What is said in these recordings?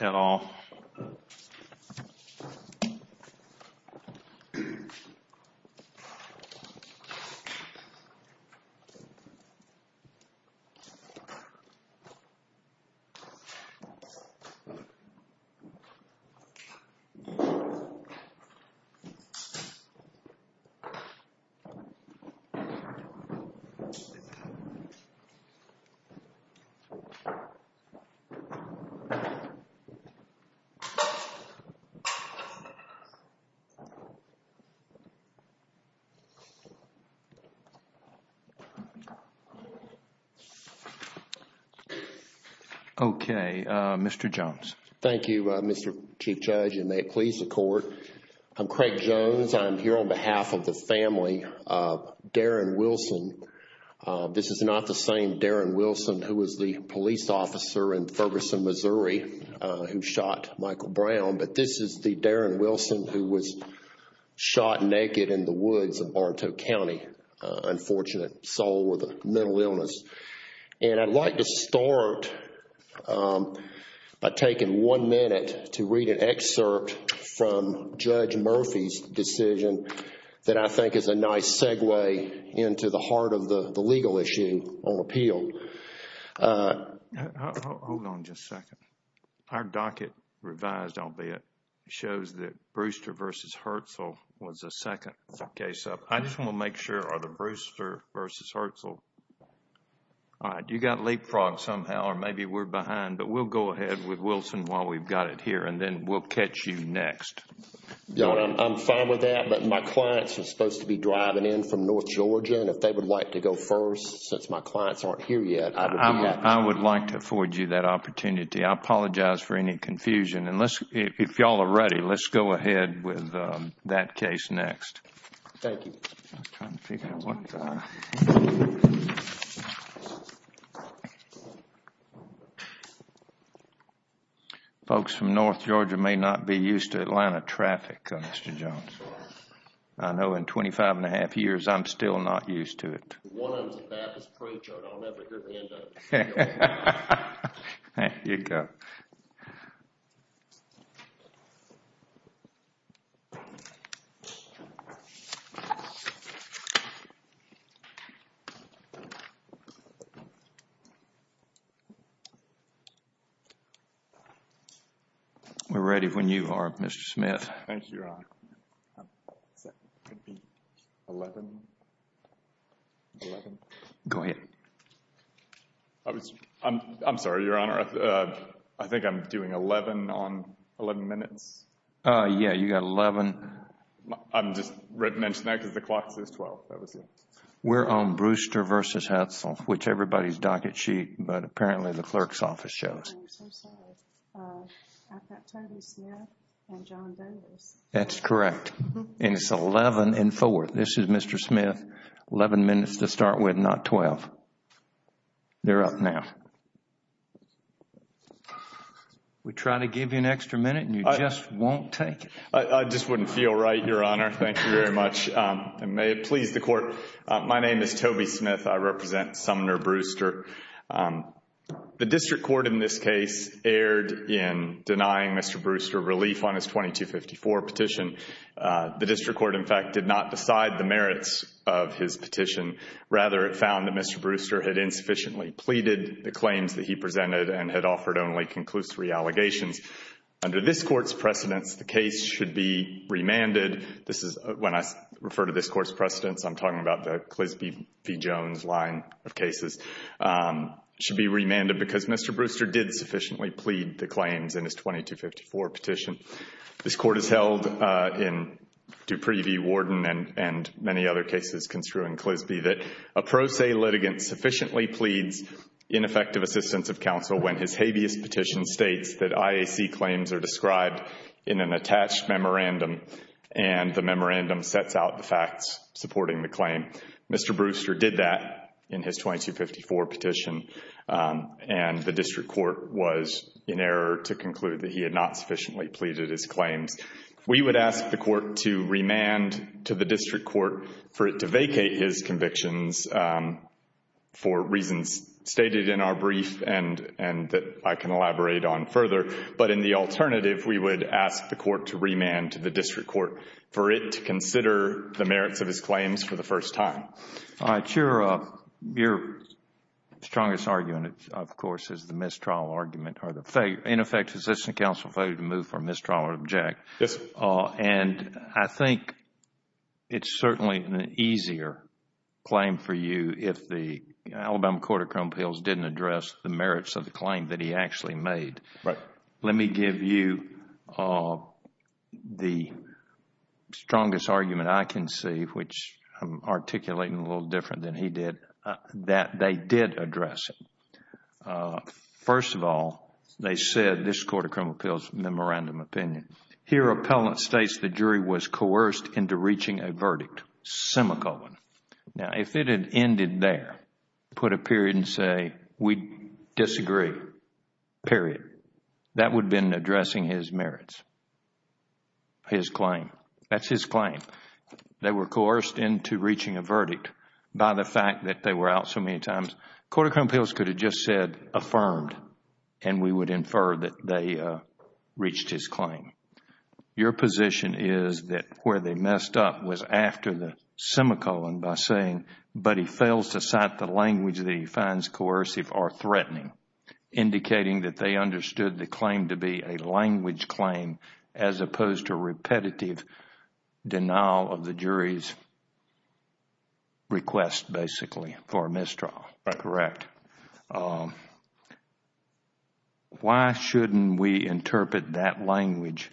at all. Okay, Mr. Jones. Thank you, Mr. Chief Judge, and may it please the Court. I'm Craig Jones. I'm here on behalf of the family of Darren Wilson. This is not the same Darren Wilson who was the police officer in Ferguson, Missouri, who shot Michael Brown, but this is the Darren Wilson who was shot naked in the woods of Barntow County, unfortunate soul with a mental illness. And I'd like to start by taking one minute to read an excerpt from Judge Murphy's decision that I think is a nice segue into the heart of the legal issue on appeal. Hold on just a second. Our docket revised, I'll bet, shows that Brewster v. Hetzel was the second case up. I just want to make sure, are the Brewster v. Hetzel... All right, you got leapfrogged somehow, or maybe we're behind, but we'll go ahead with Wilson while we've got it here, and then we'll catch you next. Your Honor, I'm fine with that, but my clients are supposed to be driving in from North Georgia, and if they would like to go first, since my clients aren't here yet, I would be happy. I would like to afford you that opportunity. I apologize for any confusion. If you all are ready, let's go ahead with that case next. Thank you. I'm trying to figure out what... Folks from North Georgia may not be used to Atlanta traffic, Mr. Jones. I know in 25 1⁄2 years, I'm still not used to it. One of them is a Baptist pro, Joe, and I'll never hear the end of it. There you go. We're ready when you are, Mr. Smith. Thank you, Your Honor. 11? Go ahead. I'm sorry, Your Honor. I think I'm doing 11 on 11 minutes. Yeah, you got 11. I'm just mentioning that because the clock says 12. We're on Brewster v. Hetzel, which everybody's docket sheet, but apparently the clerk's office shows. I'm so sorry. I've got Toby Smith and John Boehner. That's correct. It's 11 and 4. This is Mr. Smith. Eleven minutes to start with, not 12. They're up now. We try to give you an extra minute and you just won't take it. I just wouldn't feel right, Your Honor. Thank you very much. May it please the Court. My name is Toby Smith. I represent Sumner Brewster. The district court in this case erred in denying Mr. Brewster relief on his 2254 petition. The district court, in fact, did not decide the merits of his petition. Rather, it found that Mr. Brewster had insufficiently pleaded the claims that he presented and had offered only conclusory allegations. Under this court's precedents, the case should be remanded. When I refer to this court's precedents, I'm talking about the Clisby v. Jones line of cases. It should be remanded because Mr. Brewster did sufficiently plead the claims in his 2254 petition. This court has held in Dupree v. Warden and many other cases construing Clisby that a pro se litigant sufficiently pleads ineffective assistance of counsel when his habeas petition states that IAC claims are described in an attached memorandum and the memorandum sets out the facts supporting the claim. Mr. Brewster did that in his 2254 petition, and the district court was in error to conclude that he had not sufficiently pleaded his claims. We would ask the court to remand to the district court for it to vacate his convictions for reasons stated in our brief and that I can elaborate on further. But in the alternative, we would ask the court to remand to the district court for it to consider the merits of his claims for the first time. Your strongest argument, of course, is the mistrial argument. In effect, assistance of counsel failed to move from mistrial or object. And I think it's certainly an easier claim for you if the Alabama court of criminal appeals didn't address the merits of the claim that he actually made. But let me give you the strongest argument I can see, which I'm articulating a little different than he did, that they did address it. First of all, they said this court of criminal appeals memorandum opinion. Here, appellant states the jury was coerced into reaching a verdict, semicolon. Now, if it had ended there, put a period and say we disagree, period, that would have been addressing his merits, his claim. That's his claim. They were coerced into reaching a verdict by the fact that they were out so many times. Court of criminal appeals could have just said affirmed and we would infer that they reached his claim. Your position is that where they messed up was after the semicolon by saying, but he fails to cite the language that he finds coercive or threatening, indicating that they understood the claim to be a language claim as opposed to repetitive denial of the jury's request, basically, for a mistrial. That's correct. Why shouldn't we interpret that language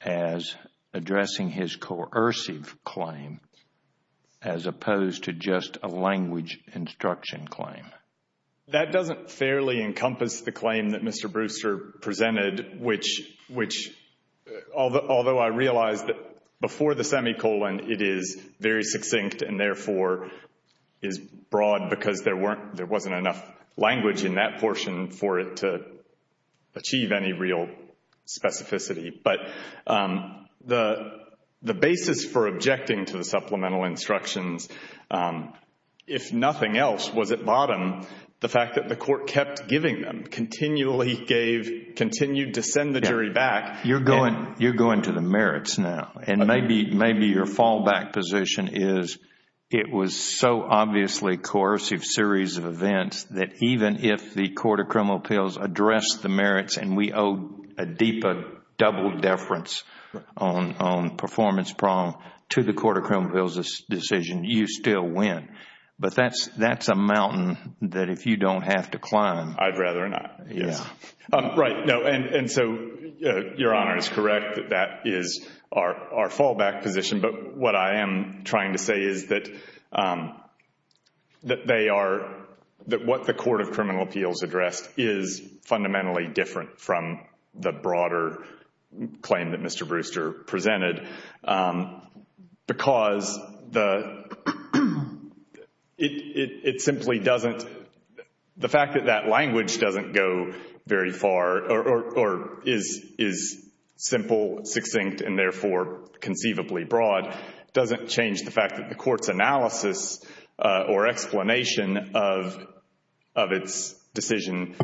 as addressing his coercive claim as opposed to just a language instruction claim? That doesn't fairly encompass the claim that Mr. Brewster presented, which although I realize that before the semicolon it is very succinct and therefore is broad because there wasn't enough language in that portion for it to achieve any real specificity. But the basis for objecting to the supplemental instructions, if nothing else, was at bottom the fact that the court kept giving them, continually gave, continued to send the jury back. You're going to the merits now. Maybe your fallback position is it was so obviously a coercive series of events that even if the court of criminal appeals addressed the merits and we owe a deeper double deference on performance prong to the court of criminal appeals' decision, you still win. But that's a mountain that if you don't have to climb. I'd rather not. Right. Your Honor is correct that that is our fallback position. But what I am trying to say is that what the court of criminal appeals addressed is fundamentally different from the broader claim that Mr. Brewster presented because the fact that that language doesn't go very far or is simple, succinct, and therefore conceivably broad doesn't change the fact that the court's analysis or explanation of its decision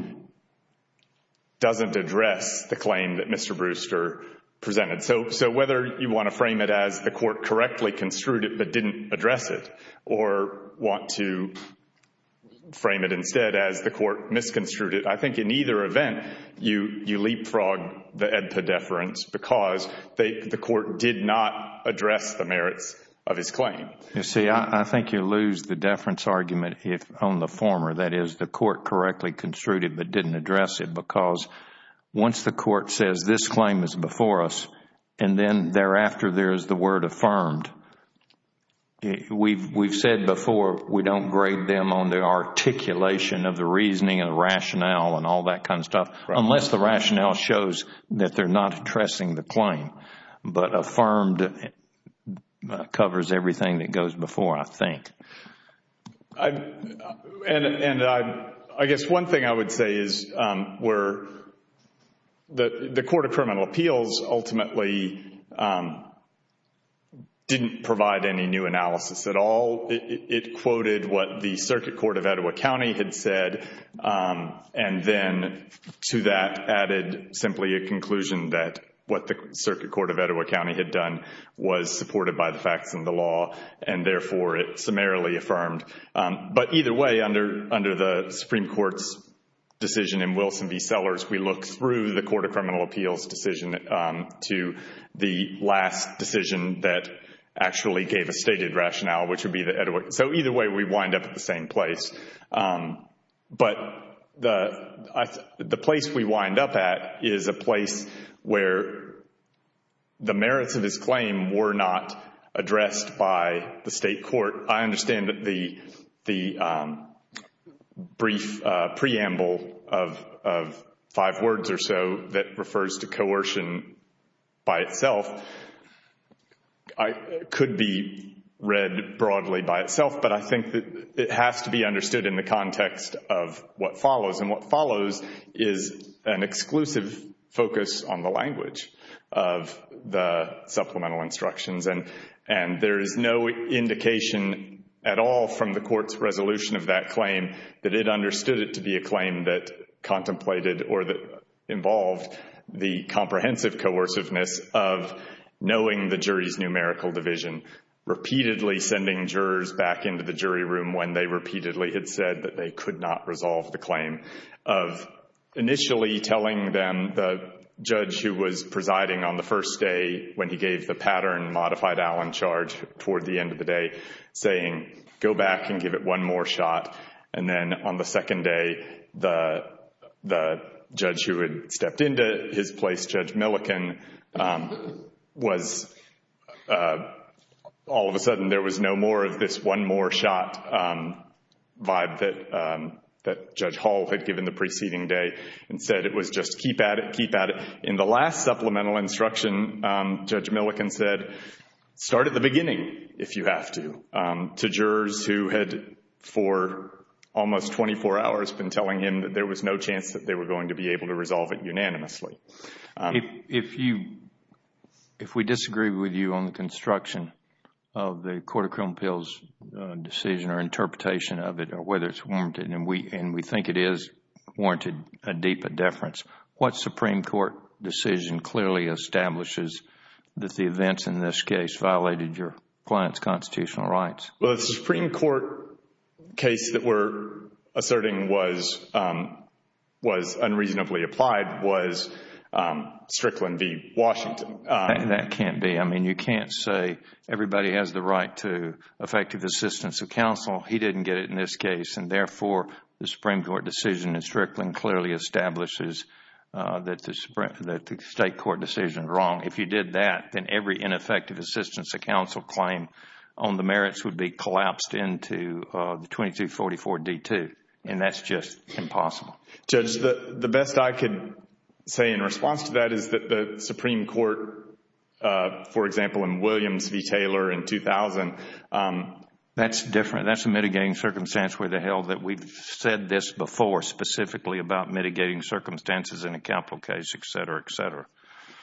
doesn't address the claim that Mr. Brewster presented. So whether you want to frame it as the court correctly construed it but didn't address it or want to frame it instead as the court misconstrued it, I think in either event you leapfrog the EDPA deference because the court did not address the merits of his claim. You see, I think you lose the deference argument on the former, that is the court correctly construed it but didn't address it because once the court says this claim is before us and then thereafter there is the word affirmed, we've said before we don't grade them on their articulation of the reasoning and rationale and all that kind of stuff unless the rationale shows that they are not addressing the claim. But affirmed covers everything that goes before, I think. And I guess one thing I would say is where the Court of Criminal Appeals ultimately didn't provide any new analysis at all. It quoted what the Circuit Court of Etowah County had said and then to that added simply a conclusion that what the Circuit Court of Etowah County had done was supported by the facts and the law and therefore it summarily affirmed. But either way, under the Supreme Court's decision in Wilson v. Sellers, we look through the Court of Criminal Appeals decision to the last decision that actually gave a stated rationale, which would be the Etowah. So either way we wind up at the same place. But the place we wind up at is a place where the merits of his claim were not addressed by the state court. I understand that the brief preamble of five words or so that refers to coercion by itself could be read broadly by itself. But I think that it has to be understood in the context of what follows. And what follows is an exclusive focus on the language of the supplemental instructions. And there is no indication at all from the Court's resolution of that claim that it understood it to be a claim that contemplated or that involved the comprehensive coerciveness of knowing the jury's numerical division. Repeatedly sending jurors back into the jury room when they repeatedly had said that they could not resolve the claim. Of initially telling them the judge who was presiding on the first day when he gave the pattern modified Allen charge toward the end of the day, saying go back and give it one more shot. And then on the second day, the judge who had stepped into his place, Judge Millikin, was all of a sudden there was no more of this one more shot vibe that Judge Hall had given the preceding day. Instead it was just keep at it, keep at it. In the last supplemental instruction, Judge Millikin said start at the beginning if you have to to jurors who had for almost 24 hours been telling him that there was no chance that they were going to be able to resolve it unanimously. If we disagree with you on the construction of the court of criminal appeals decision or interpretation of it or whether it is warranted, and we think it is warranted a deeper deference, what Supreme Court decision clearly establishes that the events in this case violated your client's constitutional rights? Well, the Supreme Court case that we are asserting was unreasonably applied was Strickland v. Washington. That can't be. I mean you can't say everybody has the right to effective assistance of counsel. He didn't get it in this case and therefore the Supreme Court decision in Strickland clearly establishes that the State Court decision is wrong. If you did that, then every ineffective assistance of counsel claim on the merits would be collapsed into the 2244 D-2 and that is just impossible. Judge, the best I can say in response to that is that the Supreme Court, for example, in Williams v. Taylor in 2000. That is different. That is a mitigating circumstance where the hell that we have said this before specifically about mitigating circumstances in a capital case, etc., etc.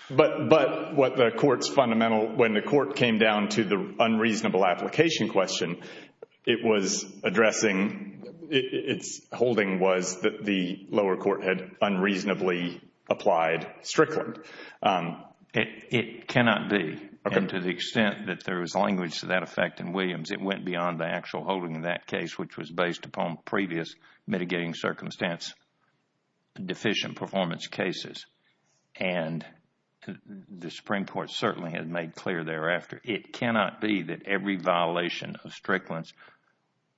But what the court's fundamental, when the court came down to the unreasonable application question, it was addressing, its holding was that the lower court had unreasonably applied Strickland. It cannot be. And to the extent that there is language to that effect in Williams, it went beyond the actual holding of that case which was based upon previous mitigating circumstance deficient performance cases. And the Supreme Court certainly had made clear thereafter. It cannot be that every violation of Strickland's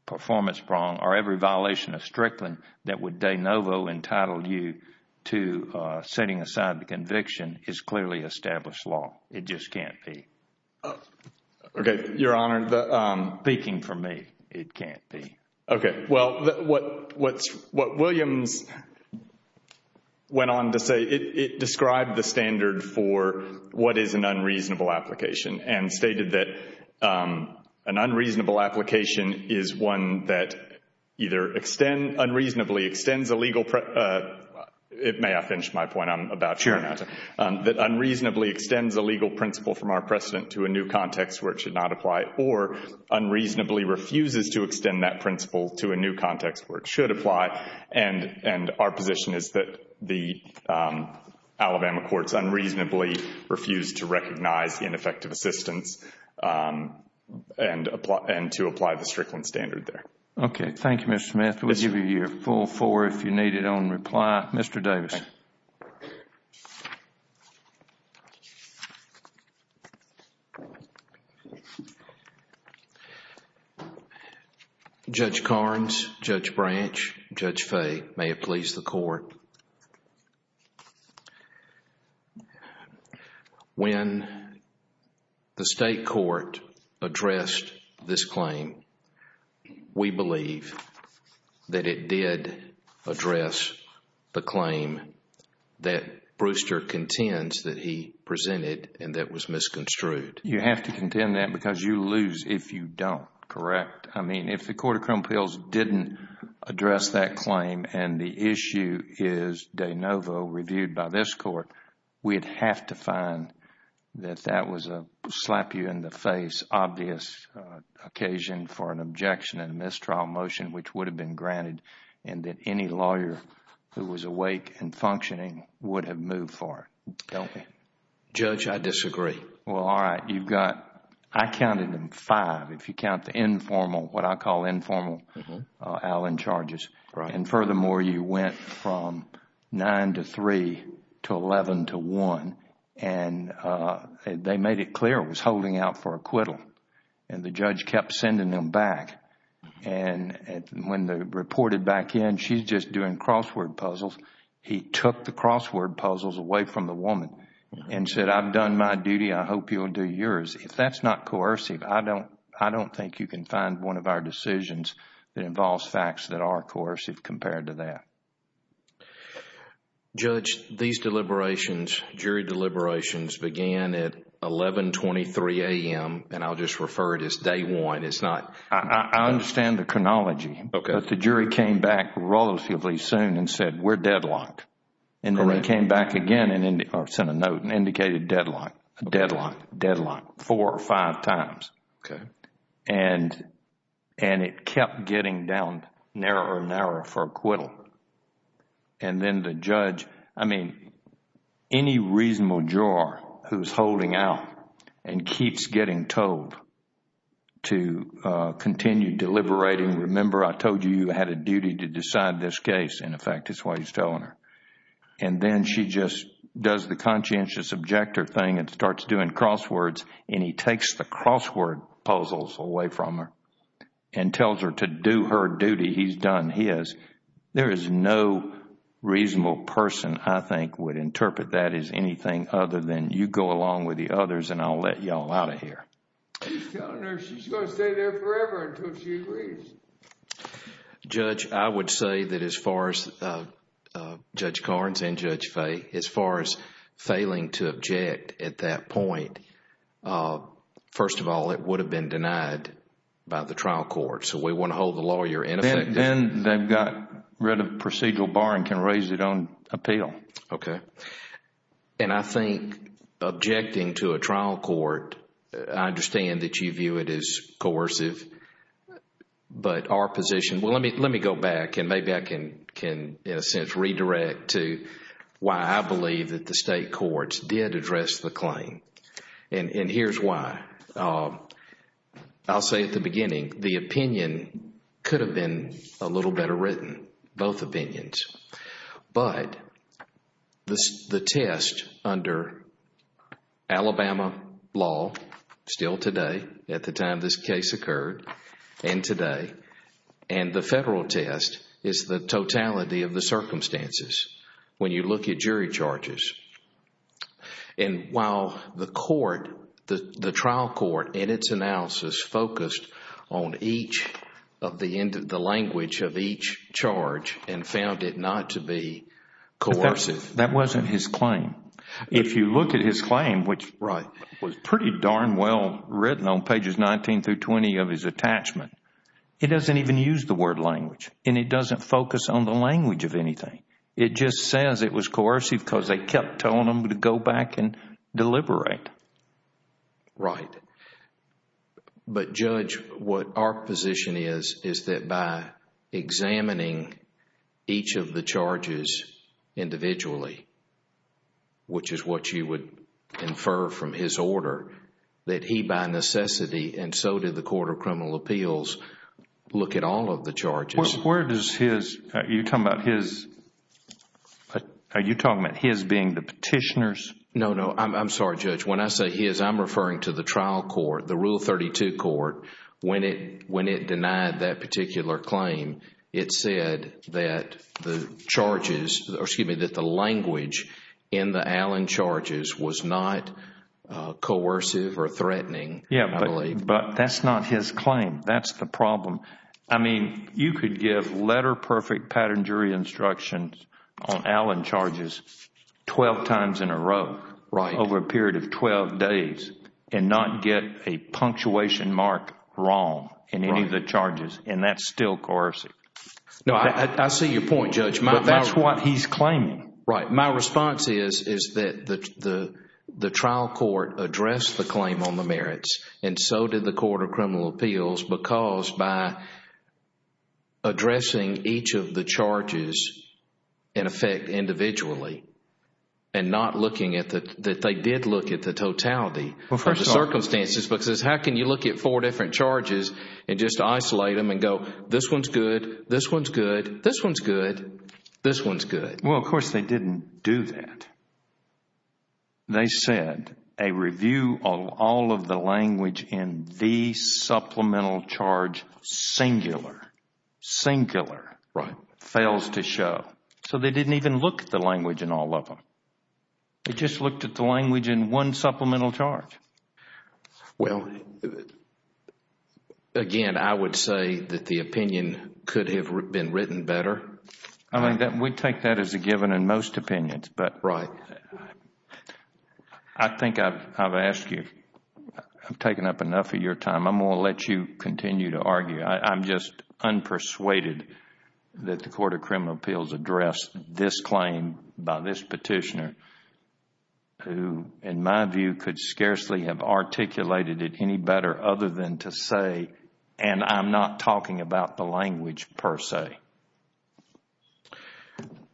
performance prong or every violation of Strickland that would de novo entitle you to setting aside the conviction is clearly established law. It just can't be. Okay, Your Honor. Speaking for me, it can't be. Okay. Well, what Williams went on to say, it described the standard for what is an unreasonable application and stated that an unreasonable application is one that either unreasonably extends a legal, it may have finished my point I'm about to run out of time, that unreasonably extends a legal principle from our precedent to a new context where it should not apply or unreasonably refuses to extend that principle to a new context where it should apply. And our position is that the Alabama courts unreasonably refused to recognize ineffective assistance and to apply the Strickland standard there. Okay. Thank you, Mr. Smith. We'll give you your full four if you need it on reply. Mr. Davis. Judge Carnes, Judge Branch, Judge Fay, may it please the court. When the state court addressed this claim, we believe that it did address the claim that Brewster contends that he presented and that was misconstrued. You have to contend that because you lose if you don't, correct? I mean, if the Court of Criminal Appeals didn't address that claim and the issue is de novo reviewed by this court, we'd have to find that that was a slap you in the face, obvious occasion for an objection and mistrial motion which would have been granted and that any lawyer who was awake and functioning would have moved for it, don't we? Judge, I disagree. Well, all right. I counted them five if you count the informal, what I call informal, Allen charges. Furthermore, you went from nine to three to eleven to one and they made it clear it was holding out for acquittal and the judge kept sending them back. When they reported back in, she's just doing crossword puzzles, he took the crossword puzzles away from the woman and said, I've done my duty, I hope you'll do yours. If that's not coercive, I don't think you can find one of our decisions that involves facts that are coercive compared to that. Judge, these deliberations, jury deliberations began at 11.23 a.m. and I'll just refer it as day one. I understand the chronology. Okay. But the jury came back relatively soon and said, we're deadlocked. Correct. The jury came back again and sent a note and indicated deadlock, deadlock, deadlock, four or five times. Okay. And it kept getting down narrower and narrower for acquittal. And then the judge, I mean, any reasonable juror who's holding out and keeps getting told to continue deliberating, remember, I told you you had a duty to decide this case. And, in fact, that's why he's telling her. And then she just does the conscientious objector thing and starts doing crosswords and he takes the crossword puzzles away from her and tells her to do her duty. He's done his. There is no reasonable person I think would interpret that as anything other than you go along with the others and I'll let you all out of here. He's telling her she's going to stay there forever until she agrees. Judge, I would say that as far as Judge Carnes and Judge Fay, as far as failing to object at that point, first of all, it would have been denied by the trial court. So we want to hold the lawyer ineffective. Then they've got rid of procedural bar and can raise it on appeal. Okay. And I think objecting to a trial court, I understand that you view it as coercive. But our position, well, let me go back and maybe I can, in a sense, redirect to why I believe that the state courts did address the claim. And here's why. I'll say at the beginning, the opinion could have been a little better written, both opinions. But the test under Alabama law, still today, at the time this case occurred, and today, and the federal test is the totality of the circumstances when you look at jury charges. And while the court, the trial court in its analysis focused on each of the language of each charge and found it not to be coercive. That wasn't his claim. If you look at his claim, which was pretty darn well written on pages 19 through 20 of his attachment, it doesn't even use the word language and it doesn't focus on the language of anything. It just says it was coercive because they kept telling him to go back and deliberate. Right. But Judge, what our position is, is that by examining each of the charges individually, which is what you would infer from his order, that he by necessity, and so did the Court of Criminal Appeals, look at all of the charges. Where does his, are you talking about his being the petitioners? No, no. I'm sorry, Judge. When I say his, I'm referring to the trial court, the Rule 32 court. When it denied that particular claim, it said that the charges, or excuse me, that the language in the Allen charges was not coercive or threatening, I believe. But that's not his claim. That's the problem. 12 times in a row, over a period of 12 days, and not get a punctuation mark wrong in any of the charges, and that's still coercive. No, I see your point, Judge. But that's what he's claiming. Right. My response is that the trial court addressed the claim on the merits, and so did the Court of Criminal Appeals, because by addressing each of the charges, in effect, individually, and not looking at the, that they did look at the totality of the circumstances, because how can you look at four different charges and just isolate them and go, this one's good, this one's good, this one's good, this one's good? Well, of course, they didn't do that. They said a review of all of the language in the supplemental charge singular, singular fails to show. So they didn't even look at the language in all of them. They just looked at the language in one supplemental charge. Well, again, I would say that the opinion could have been written better. I mean, we take that as a given in most opinions. But I think I've asked you. I've taken up enough of your time. I'm going to let you continue to argue. I'm just unpersuaded that the Court of Criminal Appeals addressed this claim by this petitioner who, in my view, could scarcely have articulated it any better other than to say, and I'm not talking about the language per se.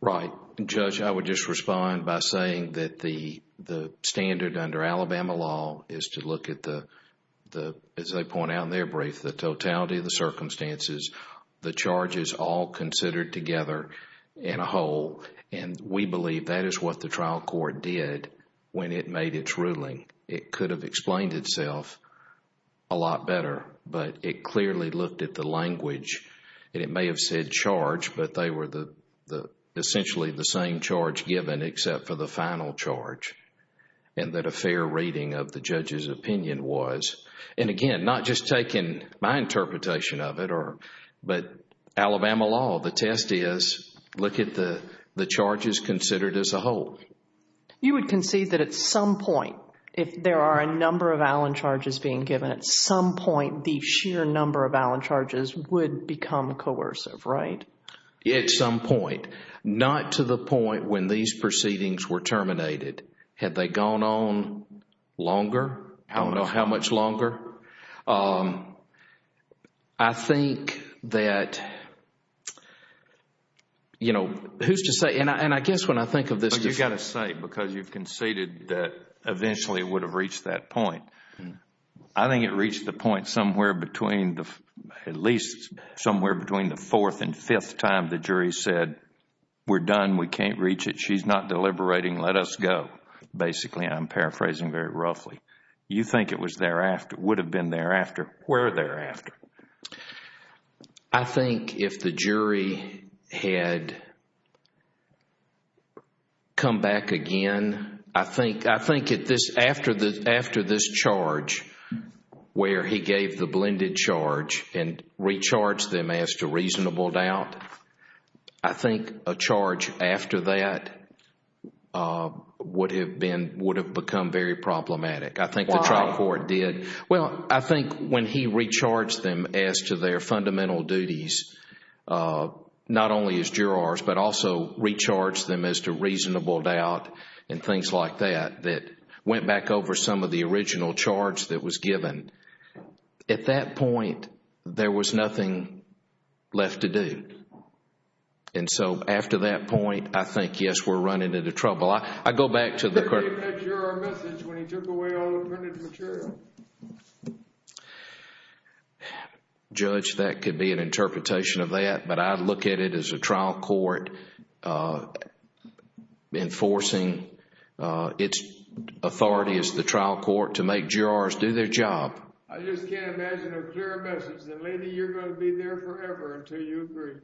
Right. Well, Judge, I would just respond by saying that the standard under Alabama law is to look at the, as they point out in their brief, the totality of the circumstances, the charges all considered together in a whole. And we believe that is what the trial court did when it made its ruling. It could have explained itself a lot better. But it clearly looked at the language. And it may have said charge, but they were essentially the same charge given except for the final charge, and that a fair reading of the judge's opinion was. And again, not just taking my interpretation of it, but Alabama law, the test is look at the charges considered as a whole. You would concede that at some point, if there are a number of Allen charges being given, that at some point the sheer number of Allen charges would become coercive, right? At some point. Not to the point when these proceedings were terminated. Had they gone on longer? I don't know how much longer. I think that, you know, who's to say, and I guess when I think of this. You've got to say, because you've conceded that eventually it would have reached that point. I think it reached the point somewhere between, at least somewhere between the fourth and fifth time the jury said, we're done, we can't reach it, she's not deliberating, let us go. Basically, I'm paraphrasing very roughly. You think it would have been thereafter. Where thereafter? I think if the jury had come back again, I think after this charge where he gave the blended charge and recharged them as to reasonable doubt, I think a charge after that would have become very problematic. I think the trial court did. Why? Well, I think when he recharged them as to their fundamental duties, not only as jurors, but also recharged them as to reasonable doubt and things like that, that went back over some of the original charge that was given. At that point, there was nothing left to do. And so after that point, I think, yes, we're running into trouble. Well, I go back to the question. He didn't make a juror message when he took away all the printed material. Judge, that could be an interpretation of that, but I look at it as a trial court enforcing its authority as the trial court to make jurors do their job. I just can't imagine a clearer message than, Andy, you're going to be there forever until you agree.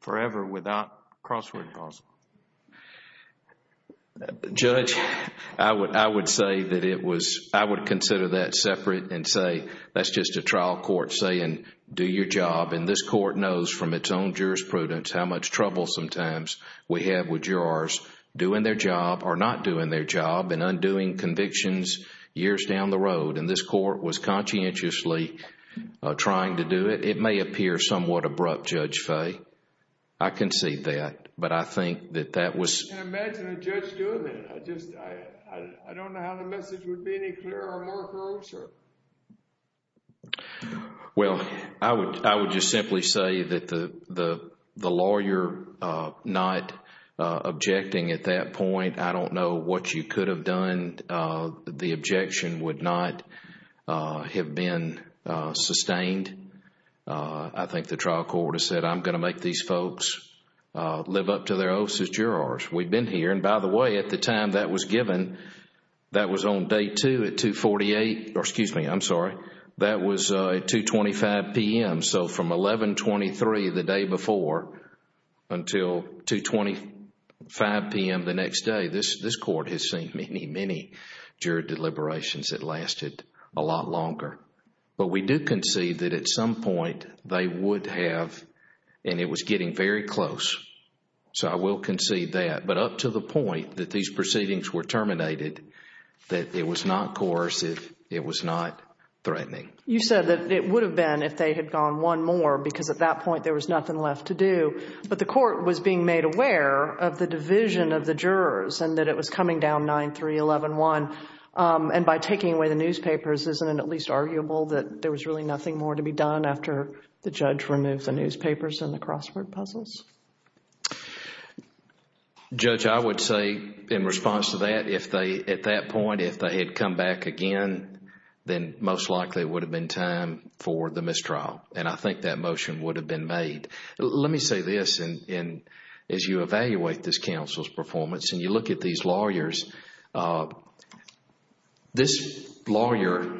Forever without crossword puzzles. Judge, I would say that it was—I would consider that separate and say that's just a trial court saying, do your job. And this court knows from its own jurisprudence how much trouble sometimes we have with jurors doing their job or not doing their job and undoing convictions years down the road. And this court was conscientiously trying to do it. It may appear somewhat abrupt, Judge Fay. I can see that. But I think that that was— I can't imagine a judge doing it. I don't know how the message would be any clearer or more approach. Well, I would just simply say that the lawyer not objecting at that point, I don't know what you could have done. The objection would not have been sustained. I think the trial court has said, I'm going to make these folks live up to their oaths as jurors. We've been here. And by the way, at the time that was given, that was on Day 2 at 2.48— or excuse me, I'm sorry, that was at 2.25 p.m. So from 11.23 the day before until 2.25 p.m. the next day, this court has seen many, many juror deliberations that lasted a lot longer. But we do concede that at some point they would have— and it was getting very close, so I will concede that. But up to the point that these proceedings were terminated, that it was not coercive, it was not threatening. You said that it would have been if they had gone one more because at that point there was nothing left to do. But the court was being made aware of the division of the jurors and that it was coming down 9-3-11-1. And by taking away the newspapers, isn't it at least arguable that there was really nothing more to be done after the judge removed the newspapers and the crossword puzzles? Judge, I would say in response to that, at that point if they had come back again, then most likely it would have been time for the mistrial. And I think that motion would have been made. Let me say this. As you evaluate this counsel's performance and you look at these lawyers, this lawyer,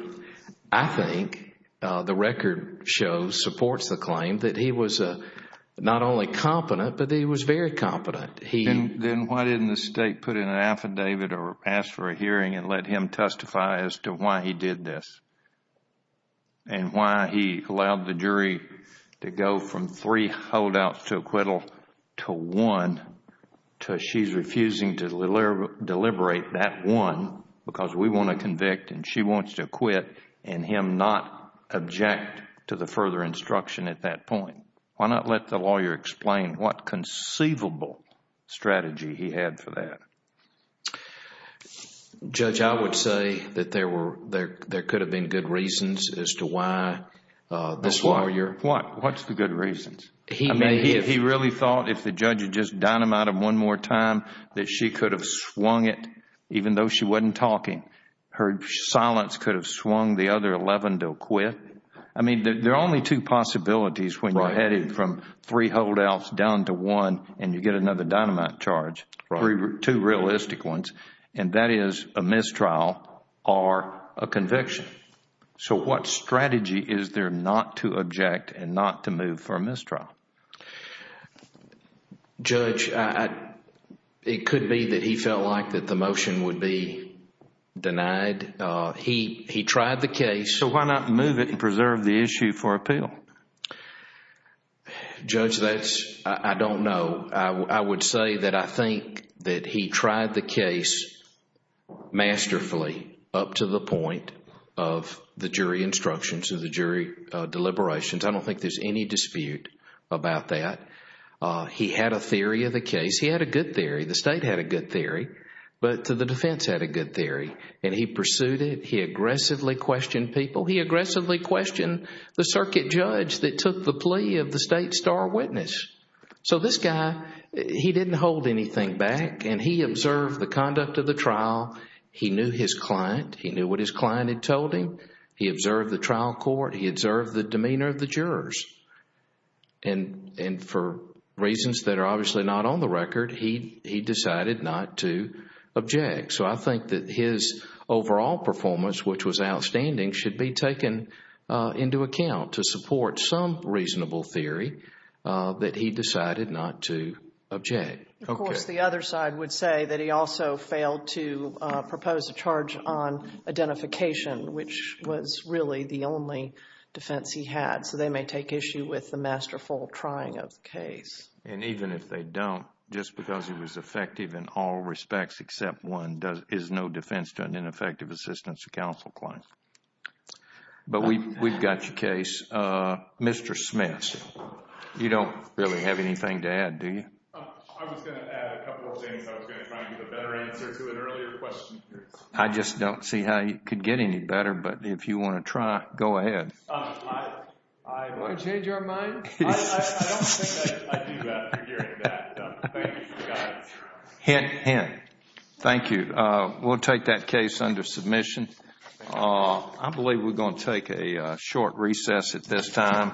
I think, the record shows, supports the claim that he was not only competent, but he was very competent. Then why didn't the State put in an affidavit or ask for a hearing and let him testify as to why he did this and why he allowed the jury to go from three holdouts to acquittal to one to she's refusing to deliberate that one because we want to convict and she wants to acquit and him not object to the further instruction at that point. Why not let the lawyer explain what conceivable strategy he had for that? Judge, I would say that there could have been good reasons as to why this lawyer... What's the good reasons? I mean, he really thought if the judge had just dynamited him one more time that she could have swung it even though she wasn't talking. Her silence could have swung the other 11 to acquit. I mean, there are only two possibilities when you're headed from three holdouts down to one and you get another dynamite charge, two realistic ones, and that is a mistrial or a conviction. So what strategy is there not to object and not to move for a mistrial? Judge, it could be that he felt like that the motion would be denied. He tried the case. So why not move it and preserve the issue for appeal? Judge, that's... I don't know. I would say that I think that he tried the case masterfully up to the point of the jury instructions or the jury deliberations. I don't think there's any dispute about that. He had a theory of the case. He had a good theory. The state had a good theory, but the defense had a good theory, and he pursued it. He aggressively questioned people. He aggressively questioned the circuit judge that took the plea of the state star witness. So this guy, he didn't hold anything back, and he observed the conduct of the trial. He knew his client. He knew what his client had told him. He observed the trial court. He observed the demeanor of the jurors. And for reasons that are obviously not on the record, he decided not to object. So I think that his overall performance, which was outstanding, should be taken into account to support some reasonable theory that he decided not to object. Of course, the other side would say that he also failed to propose a charge on identification, which was really the only defense he had. So they may take issue with the masterful trying of the case. And even if they don't, just because he was effective in all respects except one, is no defense to an ineffective assistance to counsel claim. But we've got your case. Mr. Smith, you don't really have anything to add, do you? I was going to add a couple of things. I was going to try to give a better answer to an earlier question. I just don't see how you could get any better, but if you want to try, go ahead. Do you want to change our mind? I don't think I do after hearing that. Thank you for the guidance. Hint, hint. Thank you. We'll take that case under submission. I believe we're going to take a short recess at this time.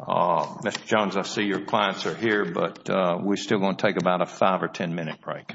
Mr. Jones, I see your clients are here, but we're still going to take about a five or ten minute break. All rise.